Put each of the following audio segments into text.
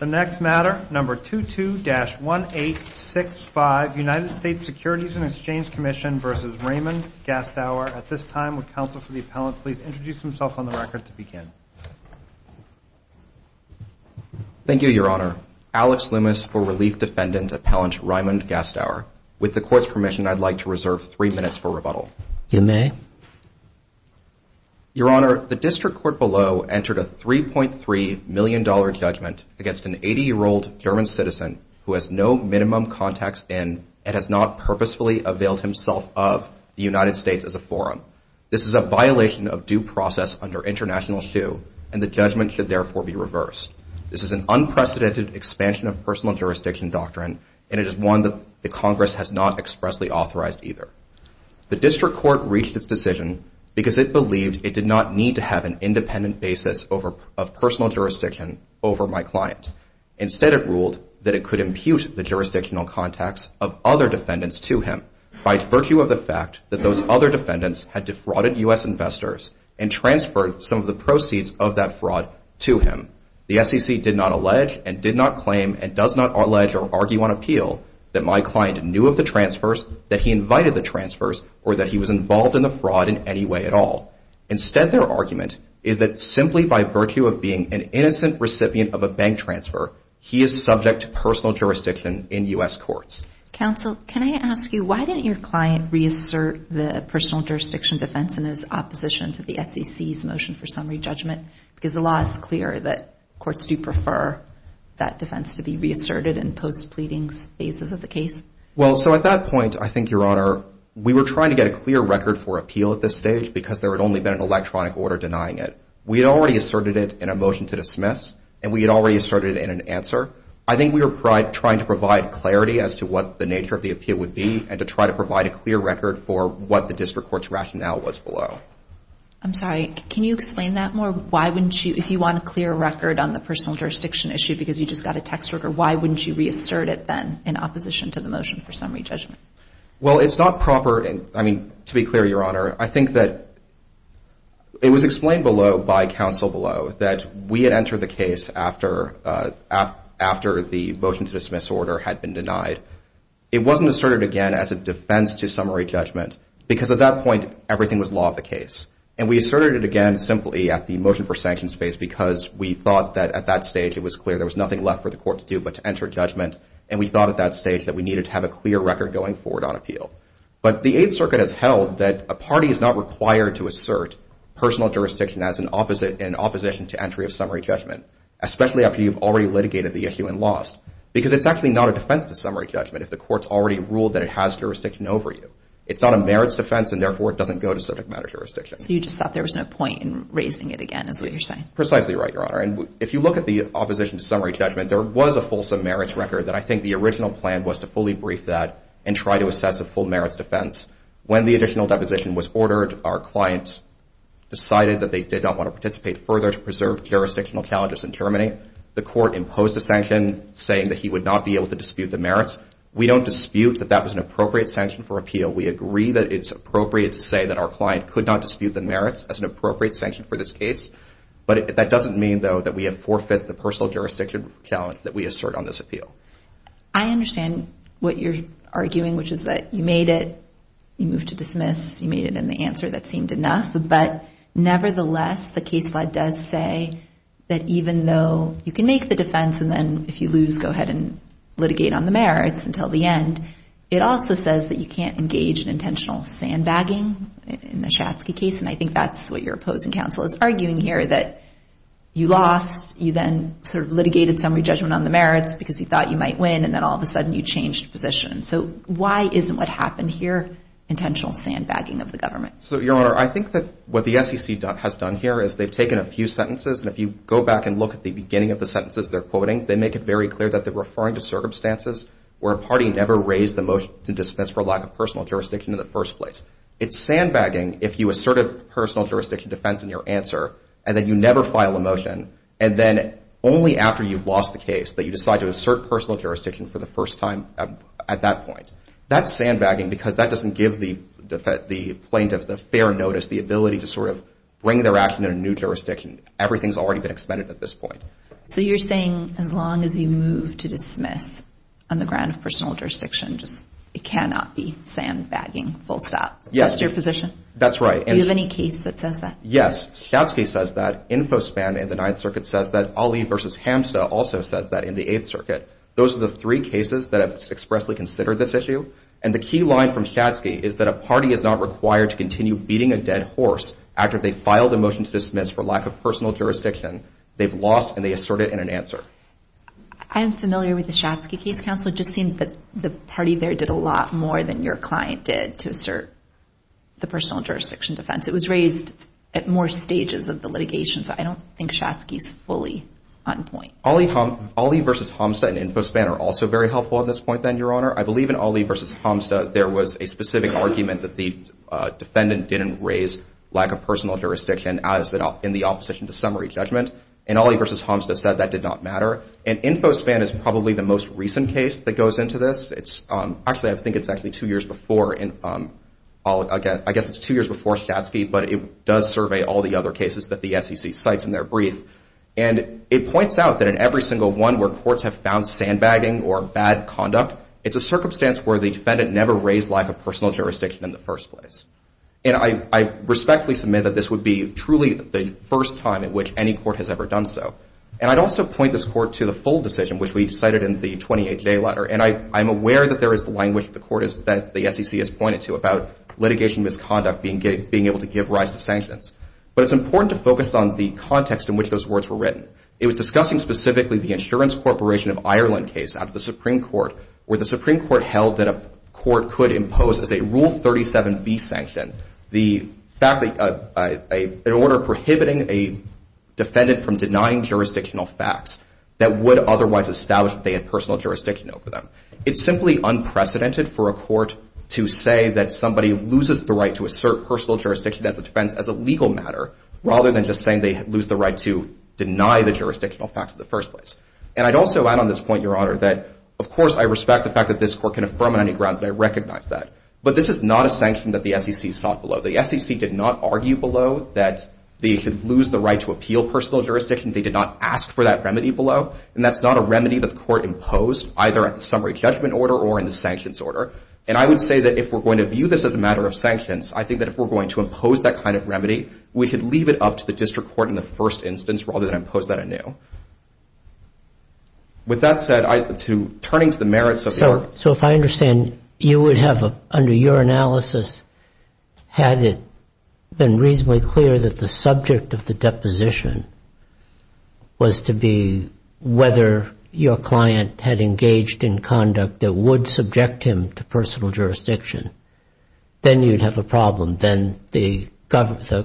The next matter, number 22-1865, United States Securities and Exchange Commission v. Raymond Gastauer. At this time, would counsel for the appellant please introduce himself on the record to begin? Thank you, Your Honor. Alex Loomis for Relief Defendant Appellant Raymond Gastauer. With the Court's permission, I'd like to reserve three minutes for rebuttal. You may. Your Honor, the District Court below entered a $3.3 million judgment against an 80-year-old German citizen who has no minimum contacts in and has not purposefully availed himself of the United States as a forum. This is a violation of due process under international shoe, and the judgment should therefore be reversed. This is an unprecedented expansion of personal jurisdiction doctrine, and it is one that the Congress has not expressly authorized either. The District Court reached its decision because it believed it did not need to have an independent basis of personal jurisdiction over my client. Instead, it ruled that it could impute the jurisdictional contacts of other defendants to him by virtue of the fact that those other defendants had defrauded U.S. investors and transferred some of the proceeds of that fraud to him. The SEC did not allege and did not claim and does not allege or argue on appeal that my client knew of the transfers, that he invited the transfers, or that he was involved in the fraud in any way at all. Instead, their argument is that simply by virtue of being an innocent recipient of a bank transfer, he is subject to personal jurisdiction in U.S. courts. Counsel, can I ask you why didn't your client reassert the personal jurisdiction defense in his opposition to the SEC's motion for summary judgment? Because the law is clear that courts do prefer that defense to be reasserted in post-pleadings phases of the case. Well, so at that point, I think, Your Honor, we were trying to get a clear record for appeal at this stage because there had only been an electronic order denying it. We had already asserted it in a motion to dismiss, and we had already asserted it in an answer. I think we were trying to provide clarity as to what the nature of the appeal would be and to try to provide a clear record for what the district court's rationale was below. I'm sorry, can you explain that more? Why wouldn't you, if you want a clear record on the personal jurisdiction issue because you just got a text record, why wouldn't you reassert it then in opposition to the motion for summary judgment? Well, it's not proper, I mean, to be clear, Your Honor, I think that it was explained below by counsel below that we had entered the case after the motion to dismiss order had been denied. It wasn't asserted again as a defense to summary judgment because at that point everything was law of the case. And we asserted it again simply at the motion for sanction space because we thought that at that stage it was clear there was nothing left for the court to do but to enter judgment. And we thought at that stage that we needed to have a clear record going forward on appeal. But the Eighth Circuit has held that a party is not required to assert personal jurisdiction in opposition to entry of summary judgment, especially after you've already litigated the issue and lost, because it's actually not a defense to summary judgment if the court's already ruled that it has jurisdiction over you. It's not a merits defense, and therefore it doesn't go to subject matter jurisdiction. So you just thought there was no point in raising it again is what you're saying? Precisely right, Your Honor. And if you look at the opposition to summary judgment, there was a fulsome merits record that I think the original plan was to fully brief that and try to assess a full merits defense. When the additional deposition was ordered, our client decided that they did not want to participate further to preserve jurisdictional challenges in terminating. The court imposed a sanction saying that he would not be able to dispute the merits. We don't dispute that that was an appropriate sanction for appeal. We agree that it's appropriate to say that our client could not dispute the merits as an appropriate sanction for this case. But that doesn't mean, though, that we have forfeited the personal jurisdiction challenge that we assert on this appeal. I understand what you're arguing, which is that you made it, you moved to dismiss, you made it in the answer that seemed enough. But nevertheless, the case law does say that even though you can make the defense and then if you lose, go ahead and litigate on the merits until the end, it also says that you can't engage in intentional sandbagging in the Schatzky case, and I think that's what your opposing counsel is arguing here, that you lost, you then sort of litigated summary judgment on the merits because you thought you might win, and then all of a sudden you changed positions. So why isn't what happened here intentional sandbagging of the government? So, Your Honor, I think that what the SEC has done here is they've taken a few sentences, and if you go back and look at the beginning of the sentences they're quoting, they make it very clear that they're referring to circumstances where a party never raised the motion to dismiss for lack of personal jurisdiction in the first place. It's sandbagging if you assert a personal jurisdiction defense in your answer and then you never file a motion, and then only after you've lost the case that you decide to assert personal jurisdiction for the first time at that point. That's sandbagging because that doesn't give the plaintiff the fair notice, the ability to sort of bring their action in a new jurisdiction. Everything's already been extended at this point. So you're saying as long as you move to dismiss on the ground of personal jurisdiction, it cannot be sandbagging full stop. Yes. That's your position? That's right. Do you have any case that says that? Yes. Schatzky says that. InfoSpan in the Ninth Circuit says that. Ali v. Hamsta also says that in the Eighth Circuit. Those are the three cases that have expressly considered this issue, and the key line from Schatzky is that a party is not required to continue beating a dead horse after they've filed a motion to dismiss for lack of personal jurisdiction. They've lost, and they assert it in an answer. I am familiar with the Schatzky case, Counselor. It just seemed that the party there did a lot more than your client did to assert the personal jurisdiction defense. It was raised at more stages of the litigation, so I don't think Schatzky's fully on point. Ali v. Hamsta and InfoSpan are also very helpful at this point then, Your Honor. I believe in Ali v. Hamsta there was a specific argument that the defendant didn't raise lack of personal jurisdiction in the opposition to summary judgment, and Ali v. Hamsta said that did not matter. And InfoSpan is probably the most recent case that goes into this. Actually, I think it's actually two years before. I guess it's two years before Schatzky, but it does survey all the other cases that the SEC cites in their brief. And it points out that in every single one where courts have found sandbagging or bad conduct, it's a circumstance where the defendant never raised lack of personal jurisdiction in the first place. And I respectfully submit that this would be truly the first time in which any court has ever done so. And I'd also point this court to the full decision, which we cited in the 28-J letter, and I'm aware that there is the language that the SEC has pointed to about litigation misconduct being able to give rise to sanctions, but it's important to focus on the context in which those words were written. It was discussing specifically the Insurance Corporation of Ireland case out of the Supreme Court where the Supreme Court held that a court could impose as a Rule 37B sanction an order prohibiting a defendant from denying jurisdictional facts that would otherwise establish that they had personal jurisdiction over them. It's simply unprecedented for a court to say that somebody loses the right to assert personal jurisdiction as a defense as a legal matter rather than just saying they lose the right to deny the jurisdictional facts in the first place. And I'd also add on this point, Your Honor, that of course I respect the fact that this court can affirm on any grounds and I recognize that, but this is not a sanction that the SEC sought below. The SEC did not argue below that they should lose the right to appeal personal jurisdiction. They did not ask for that remedy below, and that's not a remedy that the court imposed either at the summary judgment order or in the sanctions order. And I would say that if we're going to view this as a matter of sanctions, we should leave it up to the district court in the first instance rather than impose that anew. With that said, turning to the merits of the argument. So if I understand, you would have, under your analysis, had it been reasonably clear that the subject of the deposition was to be whether your client had engaged in conduct that would subject him to personal jurisdiction, then you'd have a problem. Then the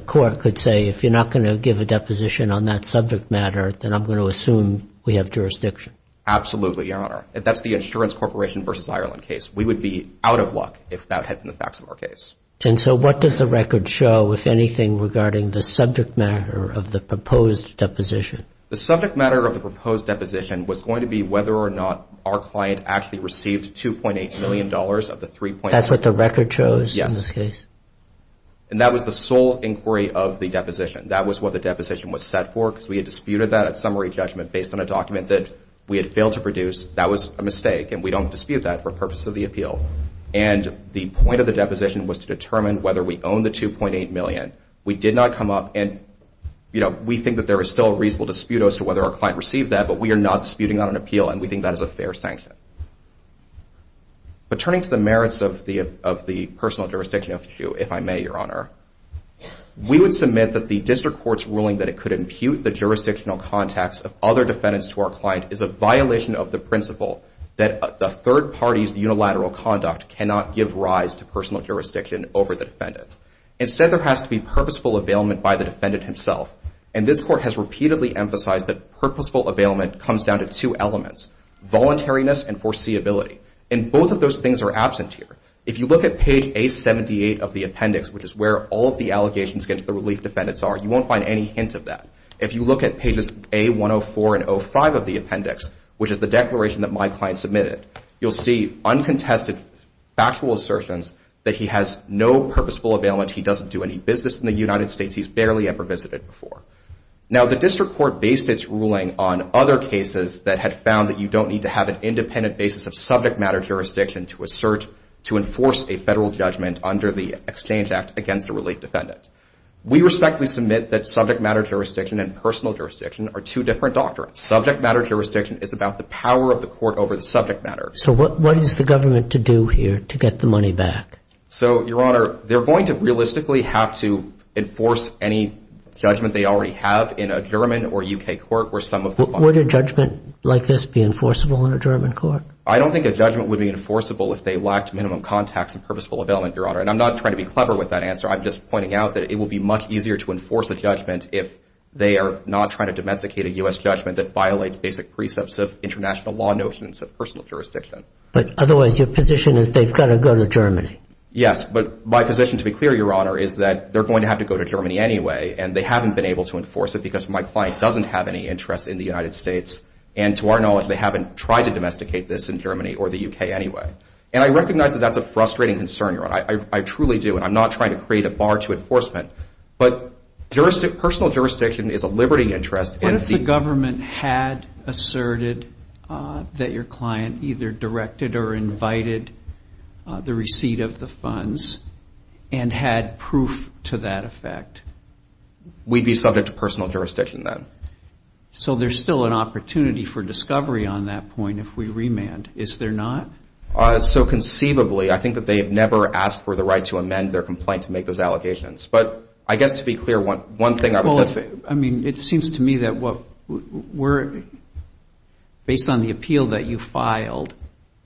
court could say, if you're not going to give a deposition on that subject matter, then I'm going to assume we have jurisdiction. Absolutely, Your Honor. If that's the Insurance Corporation v. Ireland case, we would be out of luck if that had been the facts of our case. And so what does the record show, if anything, regarding the subject matter of the proposed deposition? The subject matter of the proposed deposition was going to be whether or not our client actually received $2.8 million of the $3.8 million. The record shows in this case. Yes. And that was the sole inquiry of the deposition. That was what the deposition was set for because we had disputed that at summary judgment based on a document that we had failed to produce. That was a mistake, and we don't dispute that for purposes of the appeal. And the point of the deposition was to determine whether we owned the $2.8 million. We did not come up and, you know, we think that there is still a reasonable dispute as to whether our client received that, but we are not disputing that on appeal, and we think that is a fair sanction. But turning to the merits of the personal jurisdiction issue, if I may, Your Honor, we would submit that the district court's ruling that it could impute the jurisdictional contacts of other defendants to our client is a violation of the principle that a third party's unilateral conduct cannot give rise to personal jurisdiction over the defendant. Instead, there has to be purposeful availment by the defendant himself, and this court has repeatedly emphasized that purposeful availment comes down to two elements, voluntariness and foreseeability, and both of those things are absent here. If you look at page A78 of the appendix, which is where all of the allegations against the relief defendants are, you won't find any hint of that. If you look at pages A104 and A05 of the appendix, which is the declaration that my client submitted, you'll see uncontested factual assertions that he has no purposeful availment, he doesn't do any business in the United States, he's barely ever visited before. Now, the district court based its ruling on other cases that had found that you don't need to have an independent basis of subject matter jurisdiction to assert, to enforce a federal judgment under the Exchange Act against a relief defendant. We respectfully submit that subject matter jurisdiction and personal jurisdiction are two different doctrines. Subject matter jurisdiction is about the power of the court over the subject matter. So what is the government to do here to get the money back? So, Your Honor, they're going to realistically have to enforce any judgment they already have in a German or U.K. court where some of the money Would a judgment like this be enforceable in a German court? I don't think a judgment would be enforceable if they lacked minimum contacts and purposeful availment, Your Honor. And I'm not trying to be clever with that answer. I'm just pointing out that it would be much easier to enforce a judgment if they are not trying to domesticate a U.S. judgment that violates basic precepts of international law notions of personal jurisdiction. But otherwise, your position is they've got to go to Germany. Yes, but my position, to be clear, Your Honor, is that they're going to have to go to Germany anyway. And they haven't been able to enforce it because my client doesn't have any interest in the United States. And to our knowledge, they haven't tried to domesticate this in Germany or the U.K. anyway. And I recognize that that's a frustrating concern, Your Honor. I truly do. And I'm not trying to create a bar to enforcement. But personal jurisdiction is a liberty interest. What if the government had asserted that your client either directed or invited the receipt of the funds and had proof to that effect? We'd be subject to personal jurisdiction then. So there's still an opportunity for discovery on that point if we remand. Is there not? So conceivably, I think that they have never asked for the right to amend their complaint to make those allegations. But I guess to be clear, one thing I would say. I mean, it seems to me that based on the appeal that you filed,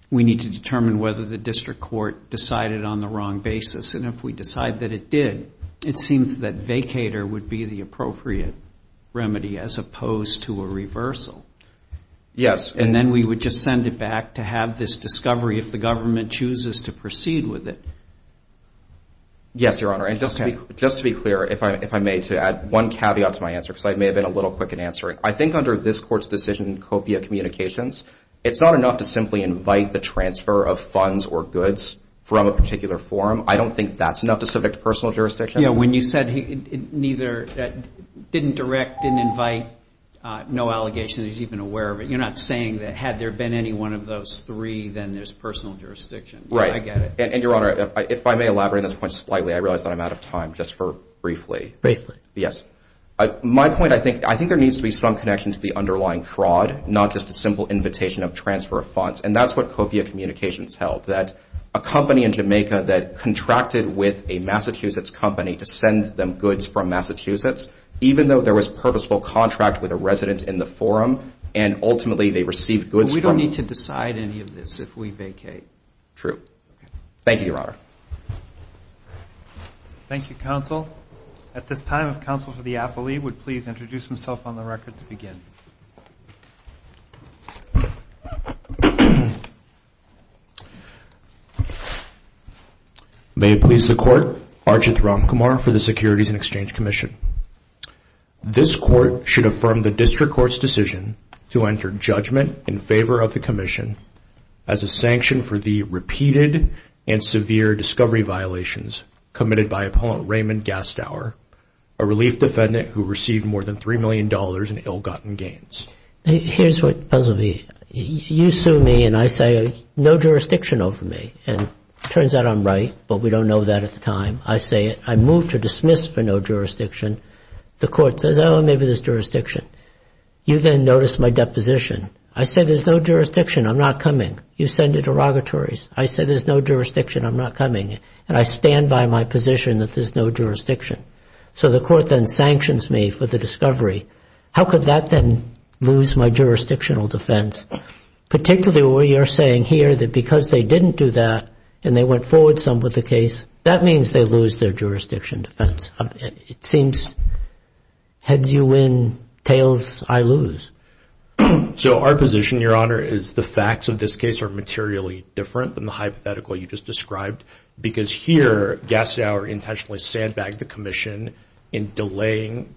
we need to determine whether the district court decided on the wrong basis. And if we decide that it did, it seems that vacater would be the appropriate remedy as opposed to a reversal. Yes. And then we would just send it back to have this discovery if the government chooses to proceed with it. Yes, Your Honor. And just to be clear, if I may, to add one caveat to my answer, because I may have been a little quick in answering. I think under this Court's decision, copia communications, it's not enough to simply invite the transfer of funds or goods from a particular forum. I don't think that's enough to subject to personal jurisdiction. Yeah. When you said he neither didn't direct, didn't invite, no allegations, he's even aware of it. You're not saying that had there been any one of those three, then there's personal jurisdiction. Right. I get it. And, Your Honor, if I may elaborate on this point slightly, I realize that I'm out of time just for briefly. Briefly. Yes. My point, I think there needs to be some connection to the underlying fraud, not just a simple invitation of transfer of funds. And that's what copia communications held, that a company in Jamaica that contracted with a Massachusetts company to send them goods from Massachusetts, even though there was purposeful contract with a resident in the forum, and ultimately they received goods from them. But we don't need to decide any of this if we vacate. True. Thank you, Your Honor. Thank you, Counsel. At this time, if Counsel for the Appellee would please introduce himself on the record to begin. May it please the Court. Arjit Ramkumar for the Securities and Exchange Commission. This Court should affirm the District Court's decision to enter judgment in favor of the Commission as a sanction for the repeated and severe discovery violations committed by Appellant Raymond Gastauer, a relief defendant who received more than $3 million in ill-gotten gains. Here's what the puzzle will be. You sue me and I say no jurisdiction over me. And it turns out I'm right, but we don't know that at the time. I say it. I move to dismiss for no jurisdiction. The Court says, oh, maybe there's jurisdiction. You then notice my deposition. I say there's no jurisdiction. I'm not coming. You send the derogatories. I say there's no jurisdiction. I'm not coming. And I stand by my position that there's no jurisdiction. So the Court then sanctions me for the discovery. How could that then lose my jurisdictional defense, particularly what you're saying here, that because they didn't do that and they went forward some with the case, that means they lose their jurisdiction defense. It seems heads you win, tails I lose. So our position, Your Honor, is the facts of this case are materially different than the hypothetical you just described because here Gassauer intentionally sandbagged the commission in delaying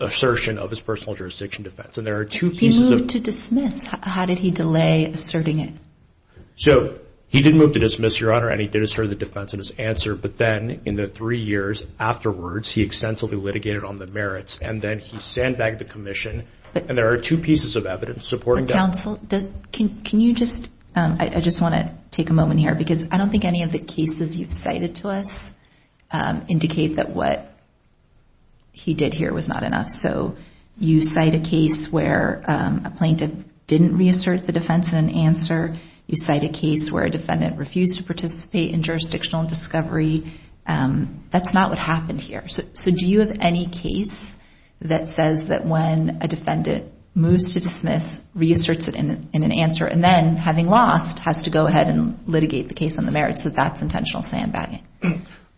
assertion of his personal jurisdiction defense. If he moved to dismiss, how did he delay asserting it? So he didn't move to dismiss, Your Honor, and he did assert the defense in his answer, but then in the three years afterwards he extensively litigated on the merits and then he sandbagged the commission. And there are two pieces of evidence supporting that. Counsel, can you just, I just want to take a moment here because I don't think any of the cases you've cited to us indicate that what he did here was not enough. So you cite a case where a plaintiff didn't reassert the defense in an answer. You cite a case where a defendant refused to participate in jurisdictional discovery. That's not what happened here. So do you have any case that says that when a defendant moves to dismiss, reasserts it in an answer, and then having lost, has to go ahead and litigate the case on the merits, that that's intentional sandbagging?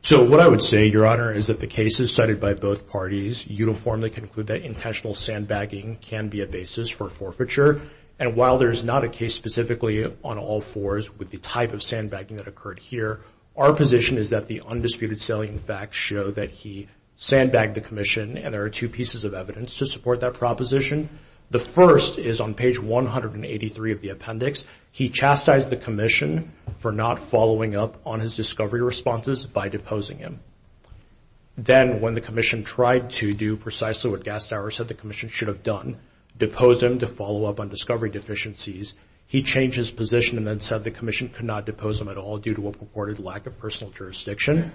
So what I would say, Your Honor, is that the cases cited by both parties uniformly conclude that intentional sandbagging can be a basis for forfeiture. And while there's not a case specifically on all fours with the type of sandbagging that occurred here, our position is that the undisputed salient facts show that he sandbagged the commission and there are two pieces of evidence to support that proposition. The first is on page 183 of the appendix. He chastised the commission for not following up on his discovery responses by deposing him. Then when the commission tried to do precisely what Gastauer said the commission should have done, depose him to follow up on discovery deficiencies, he changed his position and then said the commission could not depose him at all due to a purported lack of personal jurisdiction.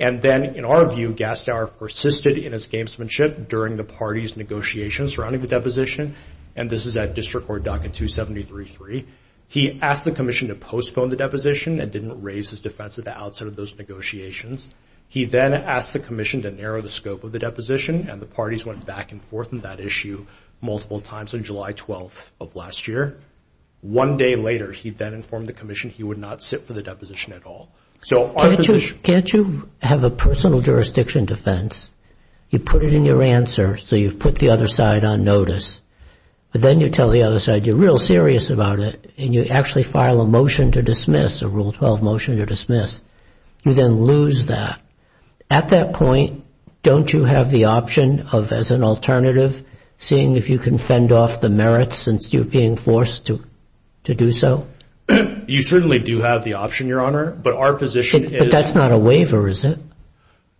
And then, in our view, Gastauer persisted in his gamesmanship during the parties' negotiations surrounding the deposition, and this is at District Court Docket 2733. He asked the commission to postpone the deposition and didn't raise his defense at the outset of those negotiations. He then asked the commission to narrow the scope of the deposition, and the parties went back and forth on that issue multiple times on July 12th of last year. One day later, he then informed the commission he would not sit for the deposition at all. Can't you have a personal jurisdiction defense? You put it in your answer, so you've put the other side on notice, but then you tell the other side you're real serious about it and you actually file a motion to dismiss, a Rule 12 motion to dismiss. You then lose that. At that point, don't you have the option of, as an alternative, seeing if you can fend off the merits since you're being forced to do so? You certainly do have the option, Your Honor, but our position is— But that's not a waiver, is it?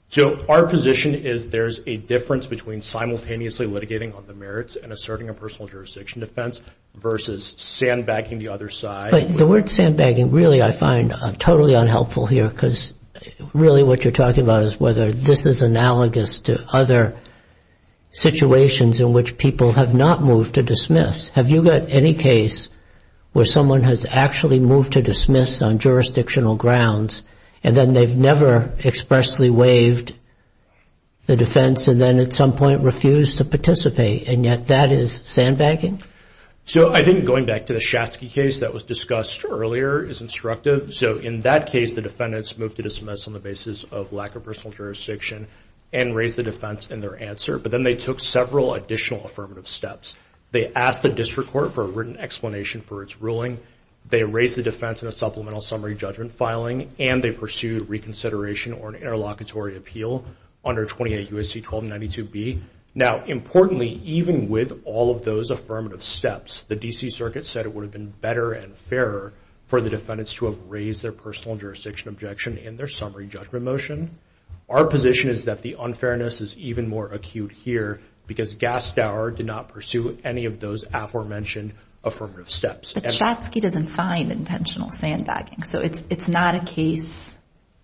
So our position is there's a difference between simultaneously litigating on the merits and asserting a personal jurisdiction defense versus sandbagging the other side. But the word sandbagging, really, I find totally unhelpful here because really what you're talking about is whether this is analogous to other situations in which people have not moved to dismiss. Have you got any case where someone has actually moved to dismiss on jurisdictional grounds and then they've never expressly waived the defense and then at some point refused to participate, and yet that is sandbagging? So I think going back to the Schatzky case that was discussed earlier is instructive. So in that case, the defendants moved to dismiss on the basis of lack of personal jurisdiction and raised the defense in their answer. But then they took several additional affirmative steps. They asked the district court for a written explanation for its ruling. They raised the defense in a supplemental summary judgment filing, and they pursued reconsideration or an interlocutory appeal under 28 U.S.C. 1292b. Now, importantly, even with all of those affirmative steps, the D.C. Circuit said it would have been better and fairer for the defendants to have raised their personal jurisdiction objection in their summary judgment motion. Our position is that the unfairness is even more acute here because Gastower did not pursue any of those aforementioned affirmative steps. But Schatzky doesn't find intentional sandbagging. So it's not a case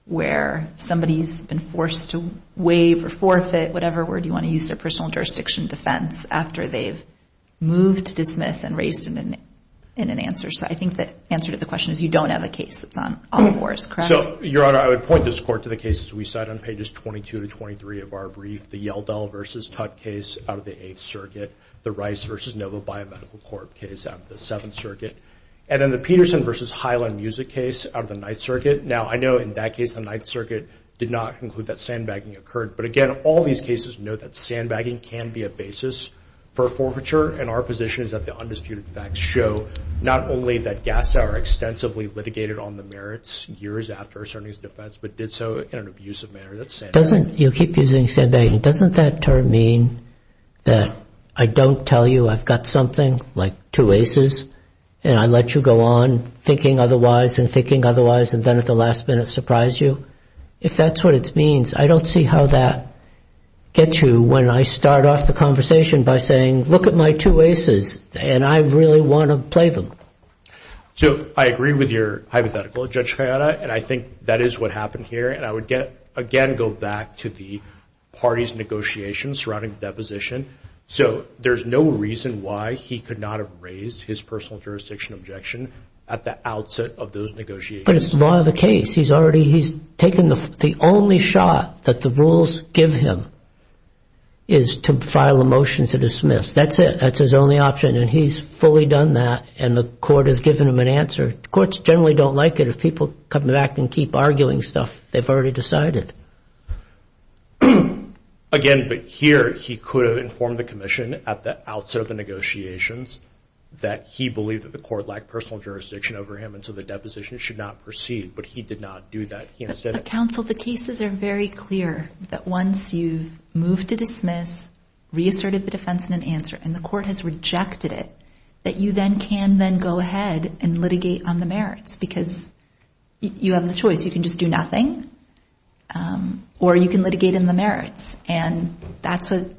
where somebody's been forced to waive or forfeit, whatever word you want to use, their personal jurisdiction defense, after they've moved to dismiss and raised it in an answer. So I think the answer to the question is you don't have a case that's on all of Orr's, correct? So, Your Honor, I would point this court to the cases we cite on pages 22 to 23 of our brief, the Yeldell v. Tutte case out of the 8th Circuit, the Rice v. Nova Biomedical Corp. case out of the 7th Circuit, and then the Peterson v. Highland Music case out of the 9th Circuit. Now, I know in that case the 9th Circuit did not conclude that sandbagging occurred. But again, all these cases know that sandbagging can be a basis for forfeiture. And our position is that the undisputed facts show not only that Gastower extensively litigated on the merits years after asserting his defense, but did so in an abusive manner. You keep using sandbagging. Doesn't that term mean that I don't tell you I've got something, like two aces, and I let you go on thinking otherwise and thinking otherwise, and then at the last minute surprise you? If that's what it means, I don't see how that gets you when I start off the conversation by saying, look at my two aces, and I really want to play them. So I agree with your hypothetical, Judge Chiara, and I think that is what happened here. And I would, again, go back to the parties' negotiations surrounding the deposition. So there's no reason why he could not have raised his personal jurisdiction objection at the outset of those negotiations. But it's law of the case. He's already taken the only shot that the rules give him is to file a motion to dismiss. That's it. That's his only option, and he's fully done that, and the court has given him an answer. Courts generally don't like it if people come back and keep arguing stuff they've already decided. Again, but here he could have informed the commission at the outset of the negotiations that he believed that the court lacked personal jurisdiction over him and so the deposition should not proceed, but he did not do that. Counsel, the cases are very clear that once you've moved to dismiss, reasserted the defense and an answer, and the court has rejected it, that you then can then go ahead and litigate on the merits because you have the choice. You can just do nothing, or you can litigate in the merits, and that's what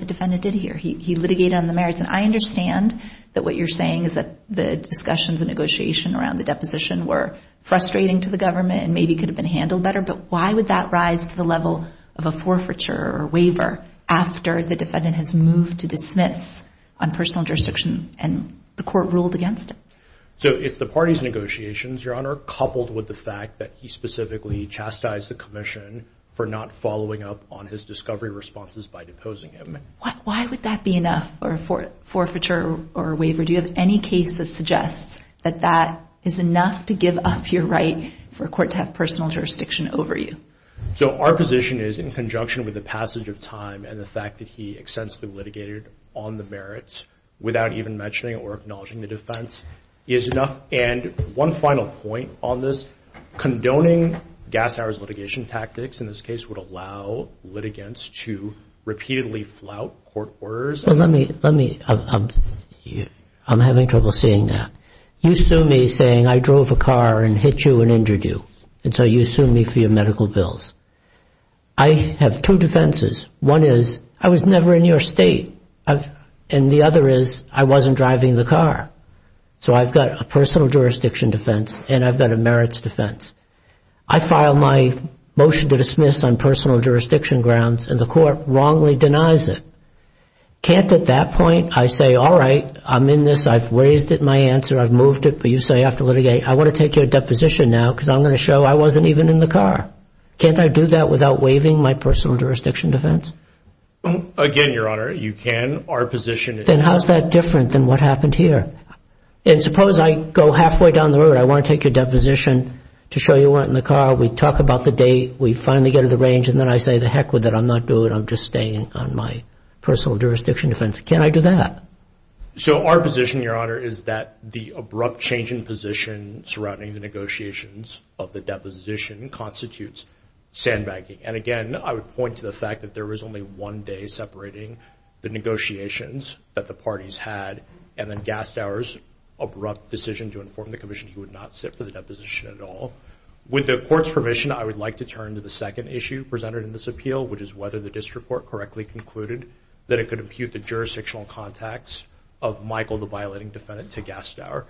the defendant did here. He litigated on the merits, and I understand that what you're saying is that the discussions and negotiation around the deposition were frustrating to the government and maybe could have been handled better, but why would that rise to the level of a forfeiture or waiver after the defendant has moved to dismiss on personal jurisdiction and the court ruled against it? So it's the party's negotiations, Your Honor, coupled with the fact that he specifically chastised the commission for not following up on his discovery responses by deposing him. Why would that be enough for a forfeiture or waiver? Do you have any case that suggests that that is enough to give up your right for a court to have personal jurisdiction over you? So our position is in conjunction with the passage of time and the fact that he extensively litigated on the merits without even mentioning or acknowledging the defense is enough. And one final point on this, condoning gas hours litigation tactics in this case would allow litigants to repeatedly flout court orders. Well, let me – I'm having trouble seeing that. You sue me saying I drove a car and hit you and injured you, and so you sue me for your medical bills. I have two defenses. One is I was never in your state, and the other is I wasn't driving the car. So I've got a personal jurisdiction defense and I've got a merits defense. I file my motion to dismiss on personal jurisdiction grounds, and the court wrongly denies it. Can't at that point I say, all right, I'm in this, I've raised it in my answer, I've moved it, but you say after litigating, I want to take your deposition now because I'm going to show I wasn't even in the car. Can't I do that without waiving my personal jurisdiction defense? Again, Your Honor, you can. Our position is – Then how is that different than what happened here? And suppose I go halfway down the road. I want to take your deposition to show you weren't in the car. We talk about the date. We finally get to the range, and then I say to heck with it. I'm not doing it. I'm just staying on my personal jurisdiction defense. Can't I do that? So our position, Your Honor, is that the abrupt change in position surrounding the negotiations of the deposition constitutes sandbagging. And again, I would point to the fact that there was only one day separating the negotiations that the parties had and then Gastauer's abrupt decision to inform the commission he would not sit for the deposition at all. With the Court's permission, I would like to turn to the second issue presented in this appeal, which is whether the district court correctly concluded that it could impute the jurisdictional contacts of Michael, the violating defendant, to Gastauer.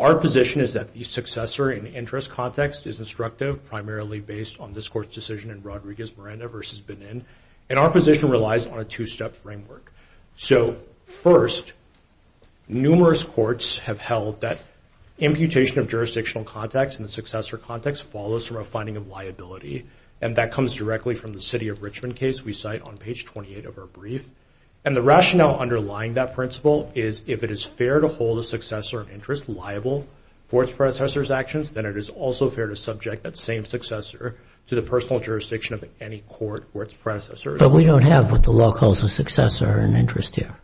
Our position is that the successor in interest context is instructive, primarily based on this Court's decision in Rodriguez-Miranda v. Benin, and our position relies on a two-step framework. So, first, numerous courts have held that imputation of jurisdictional contacts in the successor context follows from a finding of liability, and that comes directly from the city of Richmond case we cite on page 28 of our brief. And the rationale underlying that principle is if it is fair to hold a successor in interest liable for its predecessor's actions, then it is also fair to subject that same successor to the personal jurisdiction of any court where its predecessor is. But we don't have what the law calls a successor in interest here.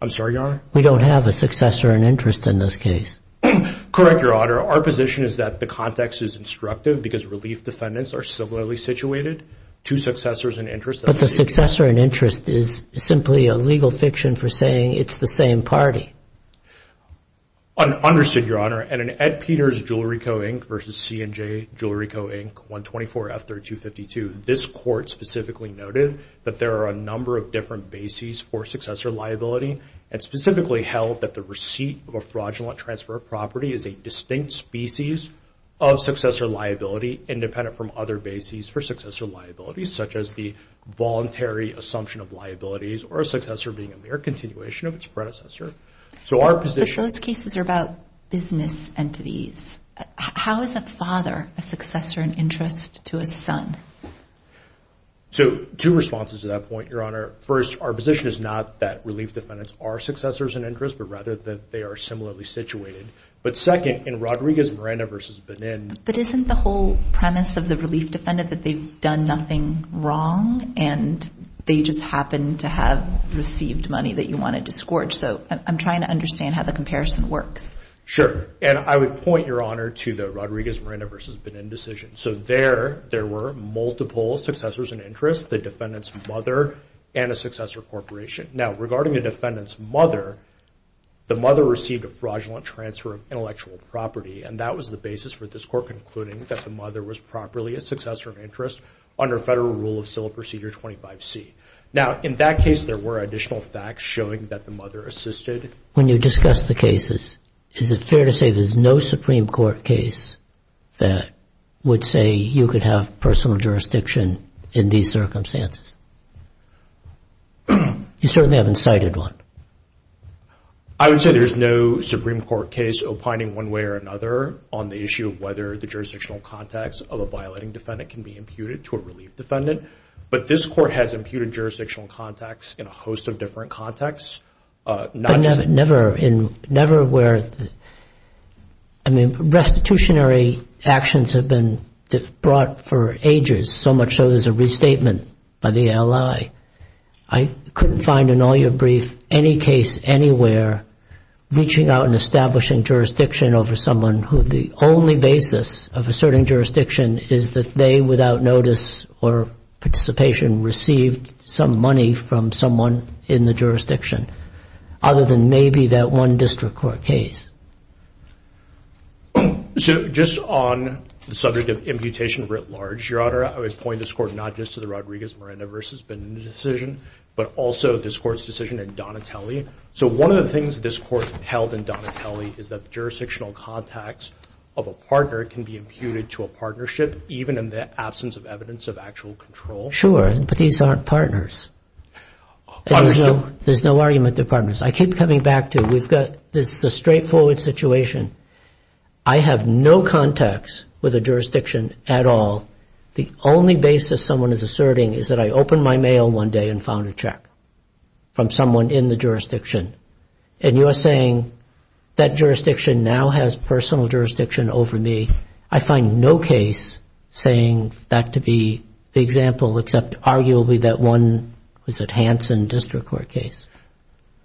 I'm sorry, Your Honor? We don't have a successor in interest in this case. Correct, Your Honor. Our position is that the context is instructive because relief defendants are similarly situated to successors in interest. But the successor in interest is simply a legal fiction for saying it's the same party. Understood, Your Honor. And in Ed Peters Jewelry Co. Inc. v. C&J Jewelry Co. Inc. 124F3252, this court specifically noted that there are a number of different bases for successor liability and specifically held that the receipt of a fraudulent transfer of property is a distinct species of successor liability independent from other bases for successor liability, such as the voluntary assumption of liabilities or a successor being a mere continuation of its predecessor. So our position But those cases are about business entities. How is a father a successor in interest to a son? So two responses to that point, Your Honor. First, our position is not that relief defendants are successors in interest, but rather that they are similarly situated. But second, in Rodriguez Miranda v. Benin But isn't the whole premise of the relief defendant that they've done nothing wrong and they just happen to have received money that you want to disgorge? So I'm trying to understand how the comparison works. Sure. And I would point, Your Honor, to the Rodriguez Miranda v. Benin decision. So there, there were multiple successors in interest, the defendant's mother and a successor corporation. Now, regarding the defendant's mother, the mother received a fraudulent transfer of intellectual property and that was the basis for this court concluding that the mother was properly a successor in interest under Federal Rule of Civil Procedure 25C. Now, in that case, there were additional facts showing that the mother assisted. When you discuss the cases, is it fair to say there's no Supreme Court case that would say you could have personal jurisdiction in these circumstances? You certainly haven't cited one. I would say there's no Supreme Court case opining one way or another on the issue of whether the jurisdictional context of a violating defendant can be imputed to a relief defendant. But this court has imputed jurisdictional context in a host of different contexts. But never in, never where, I mean, restitutionary actions have been brought for ages, so much so there's a restatement by the ALI. I couldn't find in all your brief any case anywhere reaching out and establishing jurisdiction over someone who the only basis of asserting jurisdiction is that they, without notice or participation, received some money from someone in the jurisdiction, other than maybe that one district court case. So just on the subject of imputation writ large, Your Honor, I would point this court not just to the Rodriguez-Miranda v. Benita decision, but also this court's decision in Donatelli. So one of the things this court held in Donatelli is that jurisdictional context of a partner can be imputed to a partnership, even in the absence of evidence of actual control. Sure, but these aren't partners. There's no argument they're partners. I keep coming back to, we've got, this is a straightforward situation. I have no context with a jurisdiction at all. The only basis someone is asserting is that I opened my mail one day and found a check from someone in the jurisdiction. And you're saying that jurisdiction now has personal jurisdiction over me. I find no case saying that to be the example, except arguably that one was a Hanson district court case.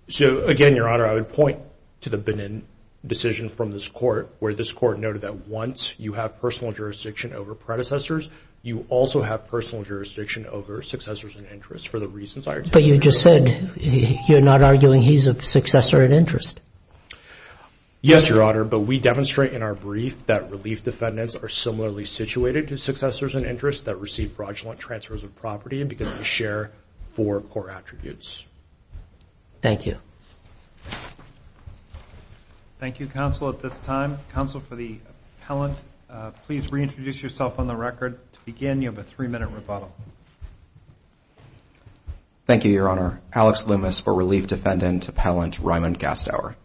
So, again, Your Honor, I would point to the Benin decision from this court, where this court noted that once you have personal jurisdiction over predecessors, you also have personal jurisdiction over successors and interests for the reasons I are telling you. But you just said you're not arguing he's a successor and interest. Yes, Your Honor, but we demonstrate in our brief that relief defendants are similarly situated to successors and interests that receive fraudulent transfers of property because they share four core attributes. Thank you. Thank you, counsel, at this time. Counsel, for the appellant, please reintroduce yourself on the record. To begin, you have a three-minute rebuttal. Thank you, Your Honor. Alex Loomis for relief defendant appellant Raymond Gastauer.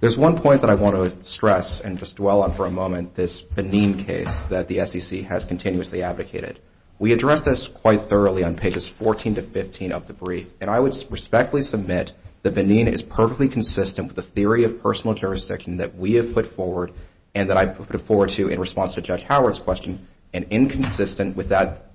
There's one point that I want to stress and just dwell on for a moment, this Benin case that the SEC has continuously advocated. We addressed this quite thoroughly on pages 14 to 15 of the brief, and I would respectfully submit that Benin is perfectly consistent with the theory of personal jurisdiction that we have put forward and that I put forward to you in response to Judge Howard's question and inconsistent with that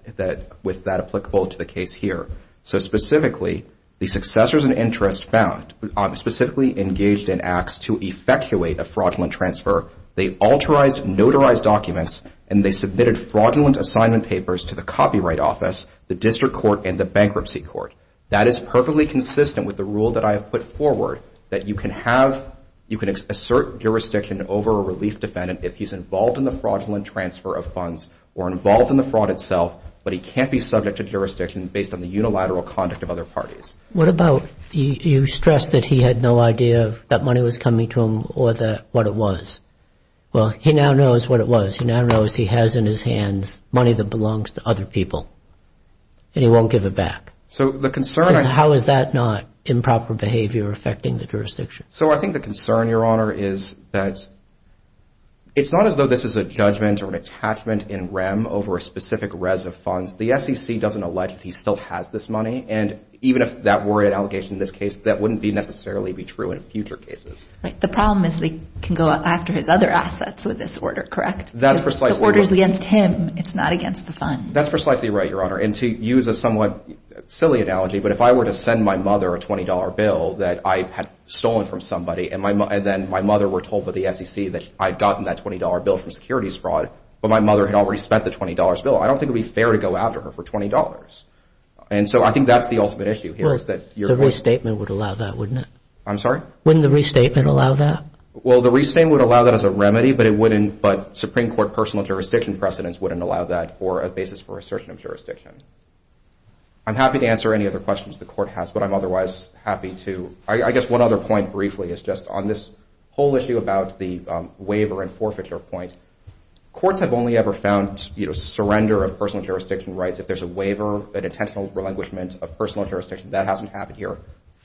applicable to the case here. So specifically, the successors and interest found, specifically engaged in acts to effectuate a fraudulent transfer, they alterized, notarized documents, and they submitted fraudulent assignment papers to the Copyright Office, the District Court, and the Bankruptcy Court. That is perfectly consistent with the rule that I have put forward that you can have, you can assert jurisdiction over a relief defendant if he's involved in the fraudulent transfer of funds or involved in the fraud itself, but he can't be subject to jurisdiction based on the unilateral conduct of other parties. What about you stress that he had no idea that money was coming to him or what it was? Well, he now knows what it was. He now knows he has in his hands money that belongs to other people, and he won't give it back. How is that not improper behavior affecting the jurisdiction? So I think the concern, Your Honor, is that it's not as though this is a judgment or an attachment in rem over a specific res of funds. The SEC doesn't allege that he still has this money, and even if that were an allegation in this case, that wouldn't necessarily be true in future cases. Right. The problem is they can go after his other assets with this order, correct? That's precisely right. The order is against him. It's not against the funds. That's precisely right, Your Honor. And to use a somewhat silly analogy, but if I were to send my mother a $20 bill that I had stolen from somebody and then my mother were told by the SEC that I'd gotten that $20 bill from securities fraud, but my mother had already spent the $20 bill, I don't think it would be fair to go after her for $20. And so I think that's the ultimate issue here. The restatement would allow that, wouldn't it? I'm sorry? Wouldn't the restatement allow that? Well, the restatement would allow that as a remedy, but Supreme Court personal jurisdiction precedents wouldn't allow that for a basis for assertion of jurisdiction. I'm happy to answer any other questions the Court has, but I'm otherwise happy to. I guess one other point briefly is just on this whole issue about the waiver and forfeiture point. Courts have only ever found surrender of personal jurisdiction rights. If there's a waiver, an intentional relinquishment of personal jurisdiction, that hasn't happened here.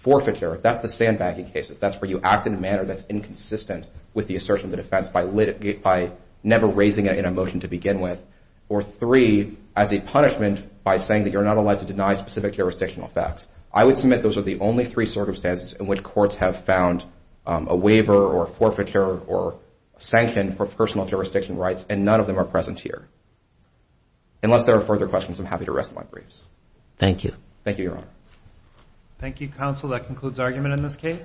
Forfeiture, that's the sandbag in cases. That's where you act in a manner that's inconsistent with the assertion of the defense by never raising it in a motion to begin with, or three, as a punishment by saying that you're not allowed to deny specific jurisdictional facts. I would submit those are the only three circumstances in which courts have found a waiver or forfeiture or sanction for personal jurisdiction rights, and none of them are present here. Unless there are further questions, I'm happy to rest my briefs. Thank you. Thank you, Your Honor. Thank you, counsel. That concludes argument in this case.